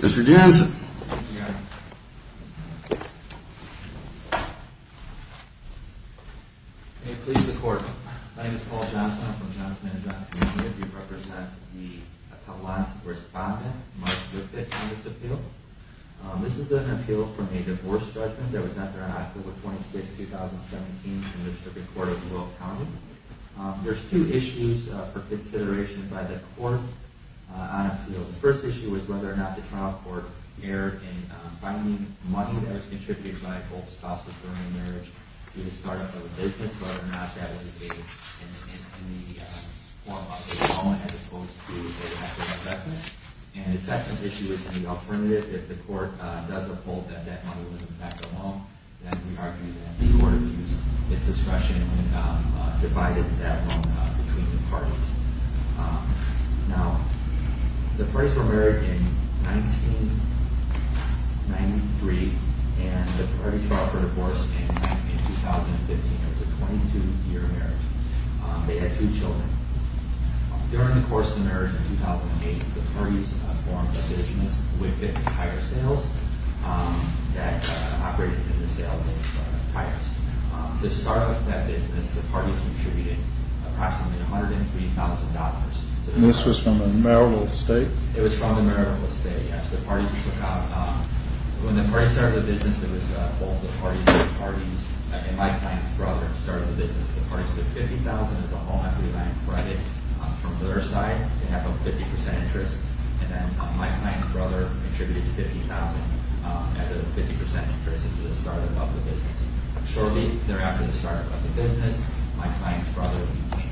Mr. Jansen, may it please the court. My name is Paul Jansen. I'm from Johnson and Johnson County. There's two issues for consideration by the court. The first issue is whether or not the trial court erred in finding money that was contributed by both spouses during the marriage to the start-up of a business, whether or not that was engaged in the form of a loan as opposed to an active investment. And the second issue is the alternative. If the court does uphold that that money was in fact a loan, then we argue that it was an active investment. Now, the parties were married in 1993, and the parties filed for divorce in 2015. It was a 22-year marriage. They had two children. During the course of the marriage in 2008, the parties formed a business, Witvoet Tire Sales, that operated in the sales of tires. To start up that business, the parties contributed approximately $103,000. And this was from a marital estate? It was from a marital estate, yes. When the parties started the business, it was both the parties and Mike Lang's brother who started the business. The parties put $50,000 as a home equity line credit from their side to have a 50% interest, and then Mike Lang's brother contributed $50,000 as a 50% interest into the start-up of the business. Shortly thereafter, the start-up of the business, Mike Lang's brother became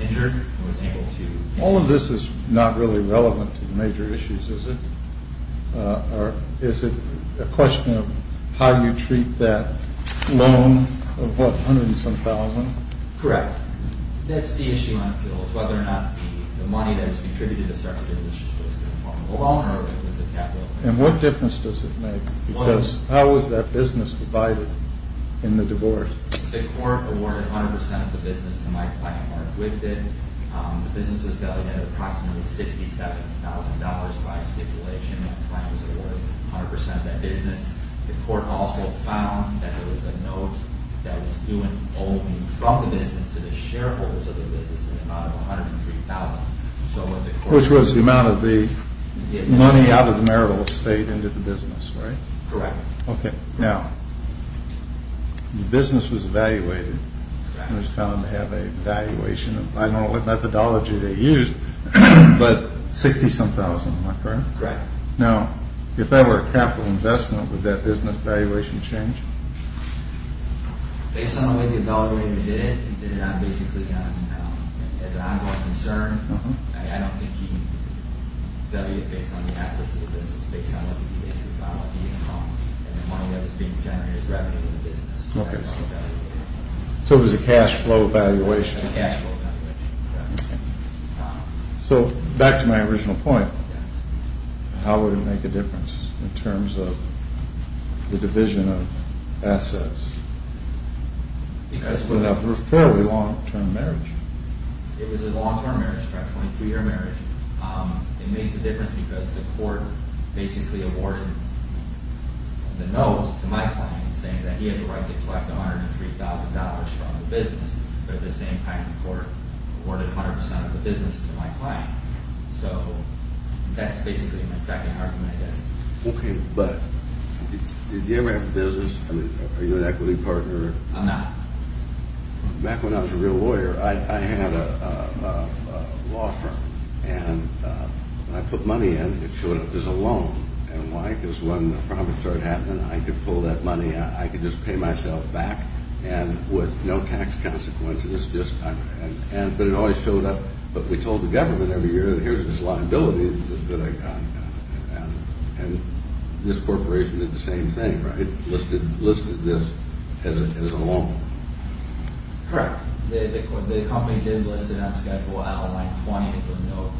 injured and was able to... All of this is not really relevant to the major issues, is it? Is it a question of how you treat that loan of, what, hundreds of thousands? Correct. That's the issue on appeals, whether or not the money that was contributed to start the business was in the form of a loan or if it was a capital... And what difference does it make? Because how was that business divided in the divorce? The court awarded 100% of the business to Mike Lang or acquitted. The business was delegated approximately $67,000 by stipulation. Mike Lang was awarded 100% of that business. The court also found that there was a note that was due only from the business to the shareholders of the business in the amount of $103,000. Which was the amount of the money out of the marital estate into the business, right? Correct. Okay. Now, the business was evaluated and was found to have a valuation of, I don't know what methodology they used, but $60,000, am I correct? Correct. Now, if that were a capital investment, would that business valuation change? Based on the way the evaluator did it, he did it basically as an ongoing concern. I don't think he valued it based on the assets of the business. Based on what the income and the money that was being generated as revenue in the business. So it was a cash flow valuation. A cash flow valuation, correct. So back to my original point, how would it make a difference in terms of the division of assets? Because it was a fairly long-term marriage. It was a long-term marriage, correct, a 23-year marriage. It makes a difference because the court basically awarded the note to Mike Lang saying that he has a right to collect $103,000 from the business. But at the same time, the court awarded 100% of the business to Mike Lang. So that's basically my second argument, I guess. Okay, but did you ever have a business? I mean, are you an equity partner? I'm not. Back when I was a real lawyer, I had a law firm. And when I put money in, it showed up as a loan. And why? Because when the problem started happening, I could pull that money out. I could just pay myself back and with no tax consequences. But it always showed up. But we told the government every year that here's this liability that I got. And this corporation did the same thing, right, listed this as a loan. Correct. The company did list it on Schedule A line 20 as a note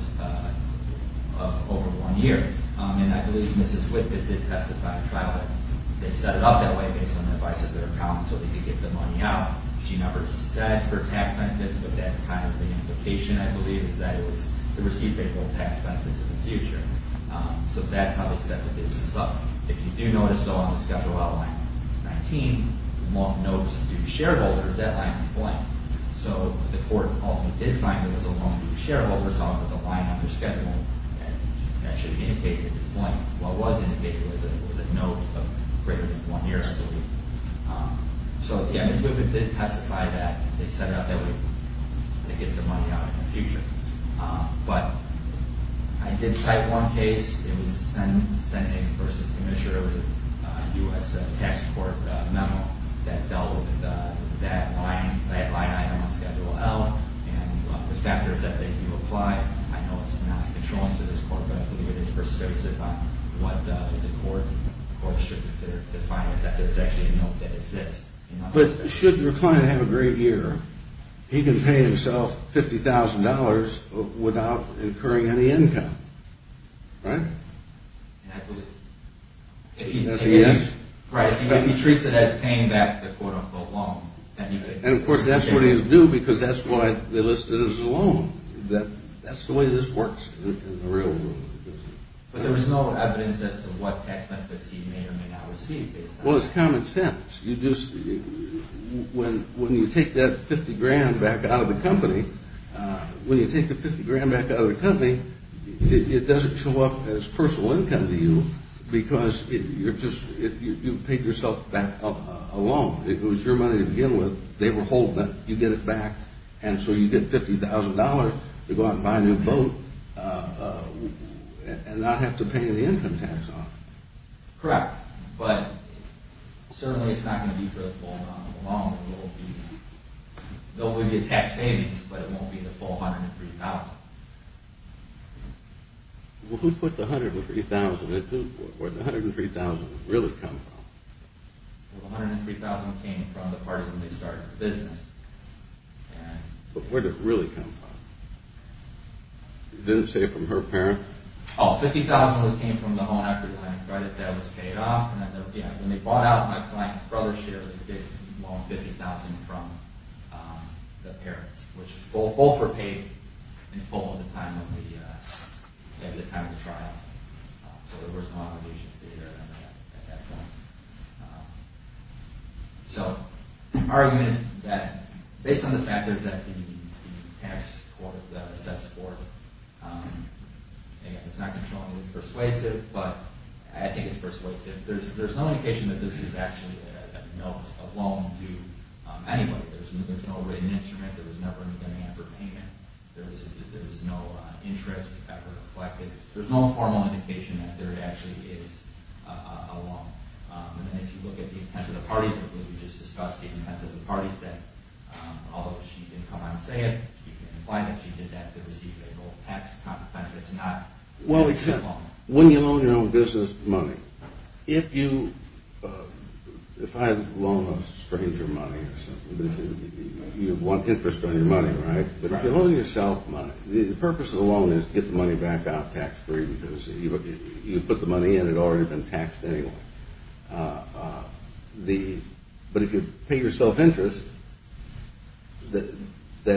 of over one year. And I believe Mrs. Whitman did testify in trial that they set it up that way based on the advice of their accountant so they could get the money out. She never said for tax benefits, but that's kind of the implication, I believe, is that it was to receive favorable tax benefits in the future. So that's how they set the business up. If you do notice so on the Schedule A line 19, the notes of due shareholders, that line is blank. So the court ultimately did find that it was a loan due to shareholders on the line under Schedule A, and that should indicate that it's blank. What was indicated was that it was a note of greater than one year, I believe. So, yeah, Mrs. Whitman did testify that they set it up that way to get their money out in the future. But I did cite one case. It was a Senate versus Commissioner. It was a U.S. Tax Court memo that dealt with that line item on Schedule L and the factors that they do apply. I know it's not controlling to this court, but I believe it is persuasive on what the court should consider to find that there's actually a note that exists. But should your client have a great year, he can pay himself $50,000 without incurring any income, right? That's a yes. Right, if he treats it as paying back the quote-unquote loan. And, of course, that's what he'll do because that's why they listed it as a loan. That's the way this works in the real world. But there was no evidence as to what tax benefits he may or may not receive based on that. Well, it's common sense. When you take that 50 grand back out of the company, when you take the 50 grand back out of the company, it doesn't show up as personal income to you because you paid yourself back a loan. It was your money to begin with. They were holding it. You get it back. And so you get $50,000 to go out and buy a new boat and not have to pay any income tax on it. Correct. But certainly it's not going to be for the full amount of the loan. It won't be a tax savings, but it won't be the full $103,000. Well, who put the $103,000 into it? Where did the $103,000 really come from? Well, the $103,000 came from the part of when they started the business. But where did it really come from? You didn't say from her parents? Oh, $50,000 came from the home equity line credit that was paid off. When they bought out, my client's brother shared a big loan, $50,000, from the parents, which both were paid in full at the time of the trial. So there was no obligations to either of them at that point. So my argument is that based on the fact that the tax court, the sex court, it's not controlling, it's persuasive. But I think it's persuasive. There's no indication that this is actually a loan to anybody. There's no written instrument. There was never an attempt for payment. There was no interest ever collected. There's no formal indication that there actually is a loan. And if you look at the intent of the parties, I believe you just discussed the intent of the parties, that although she didn't come out and say it, she didn't imply that she did that to receive a tax compensation, it's not a loan. Well, except when you loan your own business money. If I loan a stranger money or something, you want interest on your money, right? But if you loan yourself money, the purpose of the loan is to get the money back out tax-free because you put the money in, it had already been taxed anyway. But if you pay yourself interest, that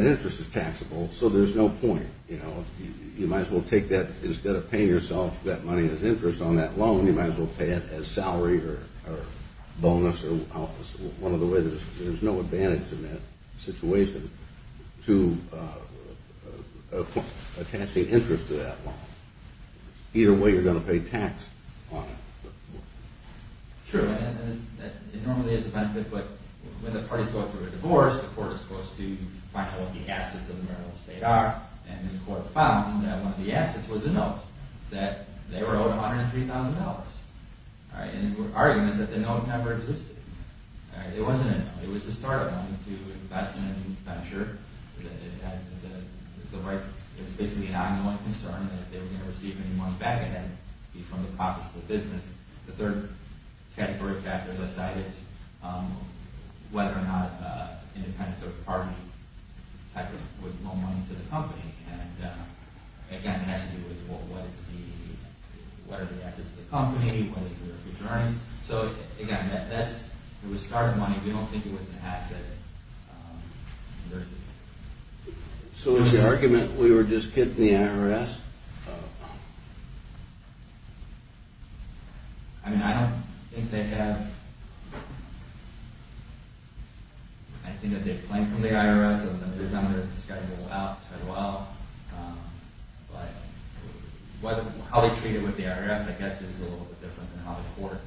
interest is taxable, so there's no point. You might as well take that. Instead of paying yourself that money as interest on that loan, you might as well pay it as salary or bonus or one of the ways. There's no advantage in that situation to attach the interest to that loan. Either way, you're going to pay tax on it. Sure, and it normally is a benefit, but when the parties go through a divorce, the court is supposed to find out what the assets of the marital estate are, and the court found that one of the assets was a note that they were owed $103,000. And the argument is that the note never existed. It wasn't a note. It was a start-up money to invest in a new venture. It was basically an ongoing concern that if they were going to receive any money back, it had to be from the profits of the business. The third category factor of the site is whether or not an independent third-party would loan money to the company. And again, it has to do with what are the assets of the company, what is their return. So again, it was start-up money. We don't think it was an asset. So is the argument we were just kidding the IRS? No. I mean, I don't think they have... I think that they've claimed from the IRS that it is under the Schedule L. But how they treat it with the IRS, I guess, is a little bit different than how the court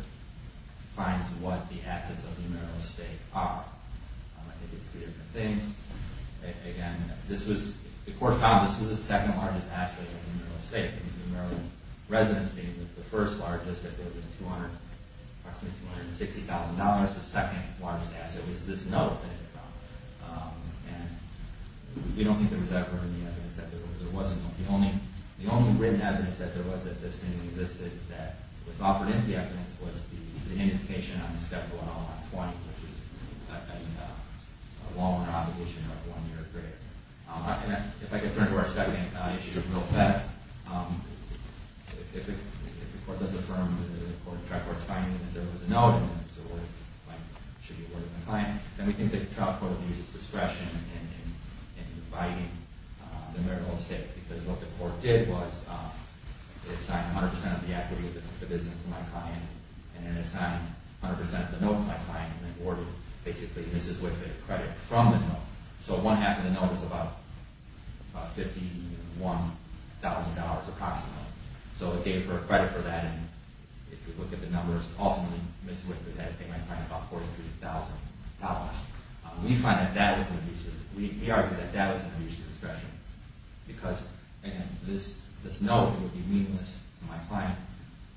finds what the assets of the marital estate are. I think it's two different things. Again, the court found this was the second largest asset of the marital estate. The marital residence being the first largest, it was approximately $260,000. The second largest asset was this note that they found. And we don't think there was ever any evidence that there was a note. The only written evidence that there was that this thing existed that was offered as the evidence was the indication on the Schedule L on 20, which is a loan or obligation of one year or greater. If I could turn to our second issue of real events. If the court does affirm that the trial court is finding that there was a note and it was awarded, like, should you award it to a client, then we think the trial court would use its discretion in providing the marital estate. Because what the court did was it assigned 100% of the equity of the business to my client and then assigned 100% of the note to my client and then awarded, basically, Mrs. Whitfield credit from the note. So one half of the note was about $51,000, approximately. So it gave her credit for that. And if you look at the numbers, ultimately, Mrs. Whitfield had to pay my client about $43,000. We find that that was an abuse of discretion. We argue that that was an abuse of discretion because, again, this note would be meaningless to my client,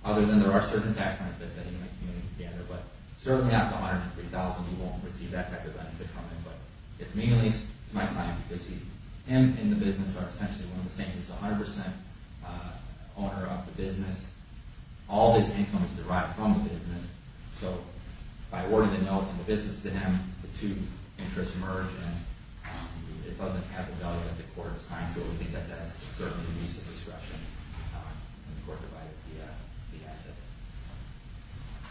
other than there are certain tax benefits that he might be willing to gather. But certainly after $103,000, he won't receive that type of benefit from it. But it's meaningless to my client because him and the business are essentially one of the same. He's a 100% owner of the business. All his income is derived from the business. So by awarding the note and the business to him, the two interests merge, and it doesn't have the value that the court assigned to it. We think that that's certainly an abuse of discretion when the court provided the asset.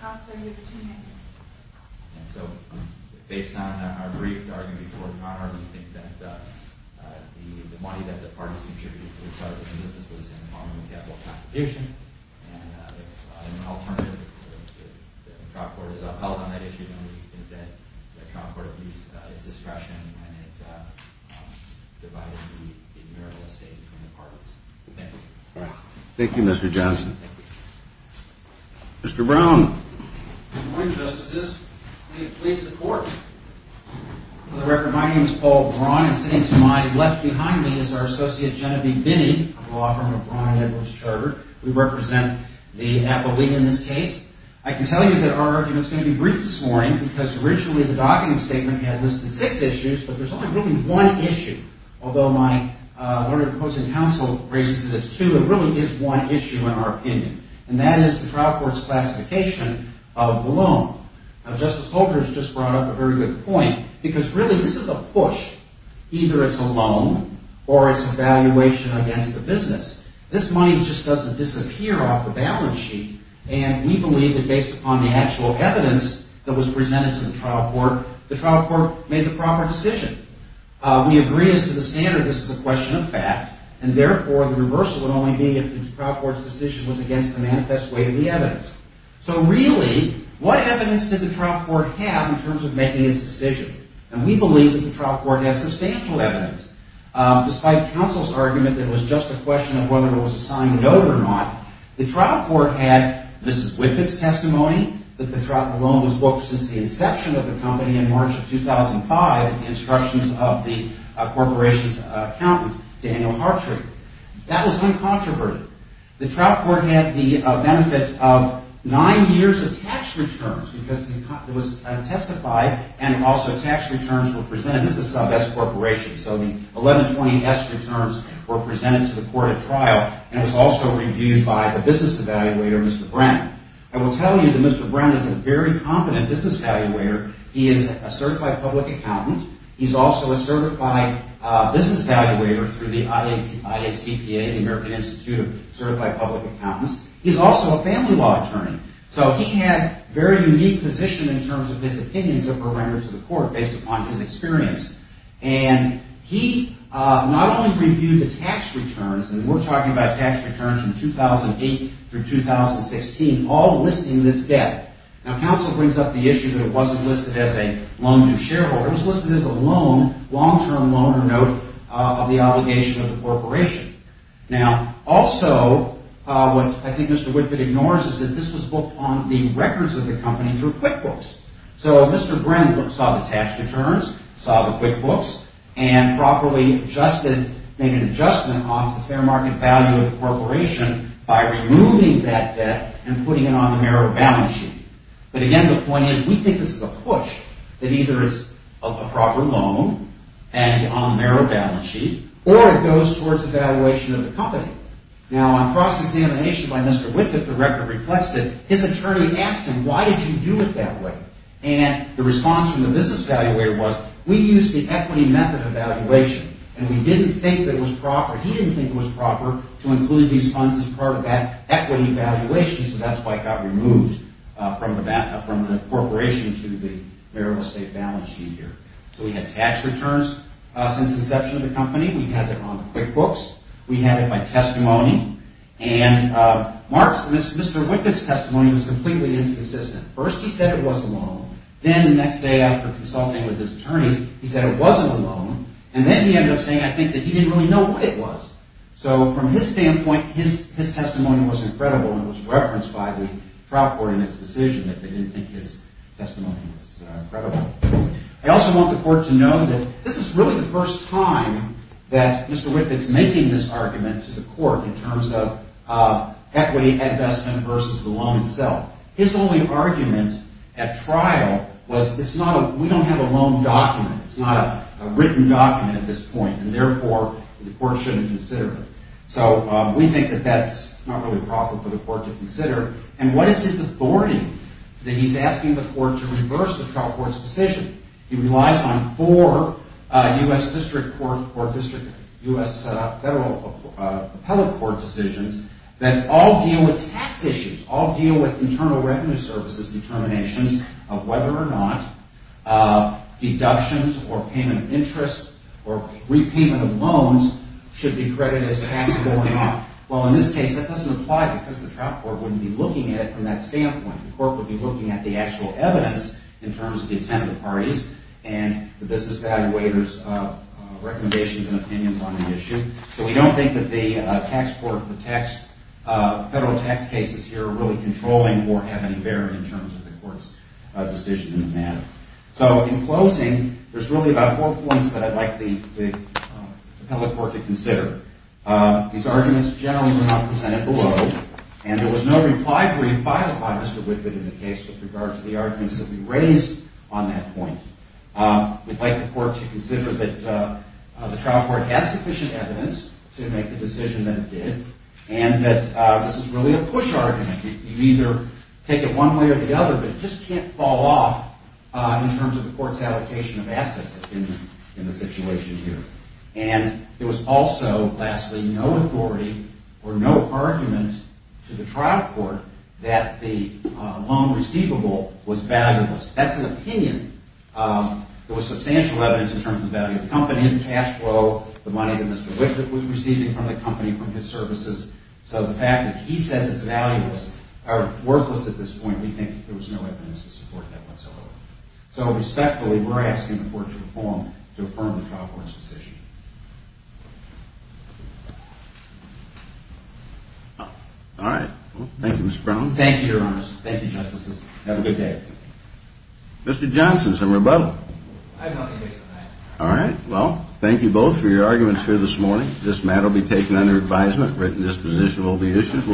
Counselor, you have two minutes. So based on our brief argument before Connor, we think that the money that the parties contributed to the start of the business was in the form of a capital compensation. And if an alternative, if the trial court is upheld on that issue, then we think that the trial court abused its discretion and it divided the admirable estate between the parties. Thank you. Thank you, Mr. Johnson. Thank you. Mr. Brown. Good morning, Justices. May it please the Court. For the record, my name is Paul Brown, and sitting to my left behind me is our Associate Genevieve Binning, a law firm of Brown & Edwards Chartered. We represent the Apple League in this case. I can tell you that our argument's going to be brief this morning because originally the docketing statement had listed six issues, but there's only really one issue. Although my learned opposing counsel raises it as two, it really is one issue in our opinion, and that is the trial court's classification of the loan. Justice Holdren has just brought up a very good point because really this is a push. Either it's a loan or it's a valuation against the business. This money just doesn't disappear off the balance sheet, and we believe that based upon the actual evidence that was presented to the trial court, the trial court made the proper decision. We agree as to the standard this is a question of fact, and therefore the reversal would only be if the trial court's decision was against the manifest way of the evidence. So really, what evidence did the trial court have in terms of making its decision? And we believe that the trial court had substantial evidence. Despite counsel's argument that it was just a question of whether it was a signed note or not, the trial court had Mrs. Whitford's testimony that the loan was booked since the inception of the company in March of 2005, instructions of the corporation's accountant, Daniel Hartree. That was uncontroverted. The trial court had the benefit of nine years of tax returns because it was testified and also tax returns were presented. This is some S corporation, so the 1120S returns were presented to the court at trial and it was also reviewed by the business evaluator, Mr. Brown. I will tell you that Mr. Brown is a very competent business evaluator. He is a certified public accountant. He's also a certified business evaluator through the IACPA, the American Institute of Certified Public Accountants. He's also a family law attorney. So he had a very unique position in terms of his opinions that were rendered to the court based upon his experience. And he not only reviewed the tax returns, and we're talking about tax returns from 2008 through 2016, all listing this debt. Now, counsel brings up the issue that it wasn't listed as a loan to shareholders. It was listed as a loan, long-term loan or note, of the obligation of the corporation. Now, also, what I think Mr. Whitgood ignores is that this was booked on the records of the company through QuickBooks. So Mr. Brown saw the tax returns, saw the QuickBooks, and properly adjusted, made an adjustment on the fair market value of the corporation by removing that debt and putting it on the merit-bound sheet. But again, the point is, we think this is a push, that either it's a proper loan and on the merit-bound sheet, or it goes towards evaluation of the company. Now, on cross-examination by Mr. Whitgood, the record reflects it, his attorney asked him, why did you do it that way? And the response from the business evaluator was, we used the equity method of evaluation, and we didn't think that it was proper. He didn't think it was proper to include these funds as part of that equity evaluation, so that's why it got removed from the corporation to the merit-of-estate balance sheet here. So we had tax returns since inception of the company, we had them on QuickBooks, we had it by testimony, and Mr. Whitgood's testimony was completely inconsistent. First, he said it was a loan. Then, the next day, after consulting with his attorneys, he said it wasn't a loan, and then he ended up saying, I think, that he didn't really know what it was. So from his standpoint, his testimony was incredible when it was referenced by the trial court in its decision that they didn't think his testimony was credible. I also want the court to know that this is really the first time that Mr. Whitgood's making this argument to the court in terms of equity investment versus the loan itself. His only argument at trial was, we don't have a loan document, it's not a written document at this point, and therefore, the court shouldn't consider it. So we think that that's not really proper for the court to consider. And what is his authority that he's asking the court to reverse the trial court's decision? He relies on four U.S. District Court or U.S. Federal Appellate Court decisions that all deal with tax issues, all deal with Internal Revenue Service's determinations of whether or not deductions or payment of interest or repayment of loans should be credited as taxable or not. Well, in this case, that doesn't apply because the trial court wouldn't be looking at it from that standpoint. The court would be looking at the actual evidence in terms of the intended parties and the business evaluators' recommendations and opinions on the issue. So we don't think that the federal tax cases here are really controlling or have any bearing in terms of the court's decision on the matter. So in closing, there's really about four points that I'd like the appellate court to consider. These arguments generally were not presented below, and there was no reply brief filed by Mr. Whitman in the case with regard to the arguments that we raised on that point. We'd like the court to consider that the trial court has sufficient evidence to make the decision that it did and that this is really a push argument. You either take it one way or the other, but it just can't fall off in terms of the court's allocation of assets in the situation here. And there was also, lastly, no authority or no argument to the trial court that the loan receivable was valueless. That's an opinion. There was substantial evidence in terms of the value of the company, the cash flow, the money that Mr. Whitman was receiving from the company, from his services. So the fact that he says it's valueless or worthless at this point, we think there was no evidence to support that whatsoever. So respectfully, we're asking the court to reform to affirm the trial court's decision. All right. Thank you, Mr. Brown. Thank you, Your Honors. Thank you, Justices. Have a good day. Mr. Johnson, some rebuttal? I have nothing to say tonight. All right. Well, thank you both for your arguments here this morning. This matter will be taken under advisement. Written disposition will be issued.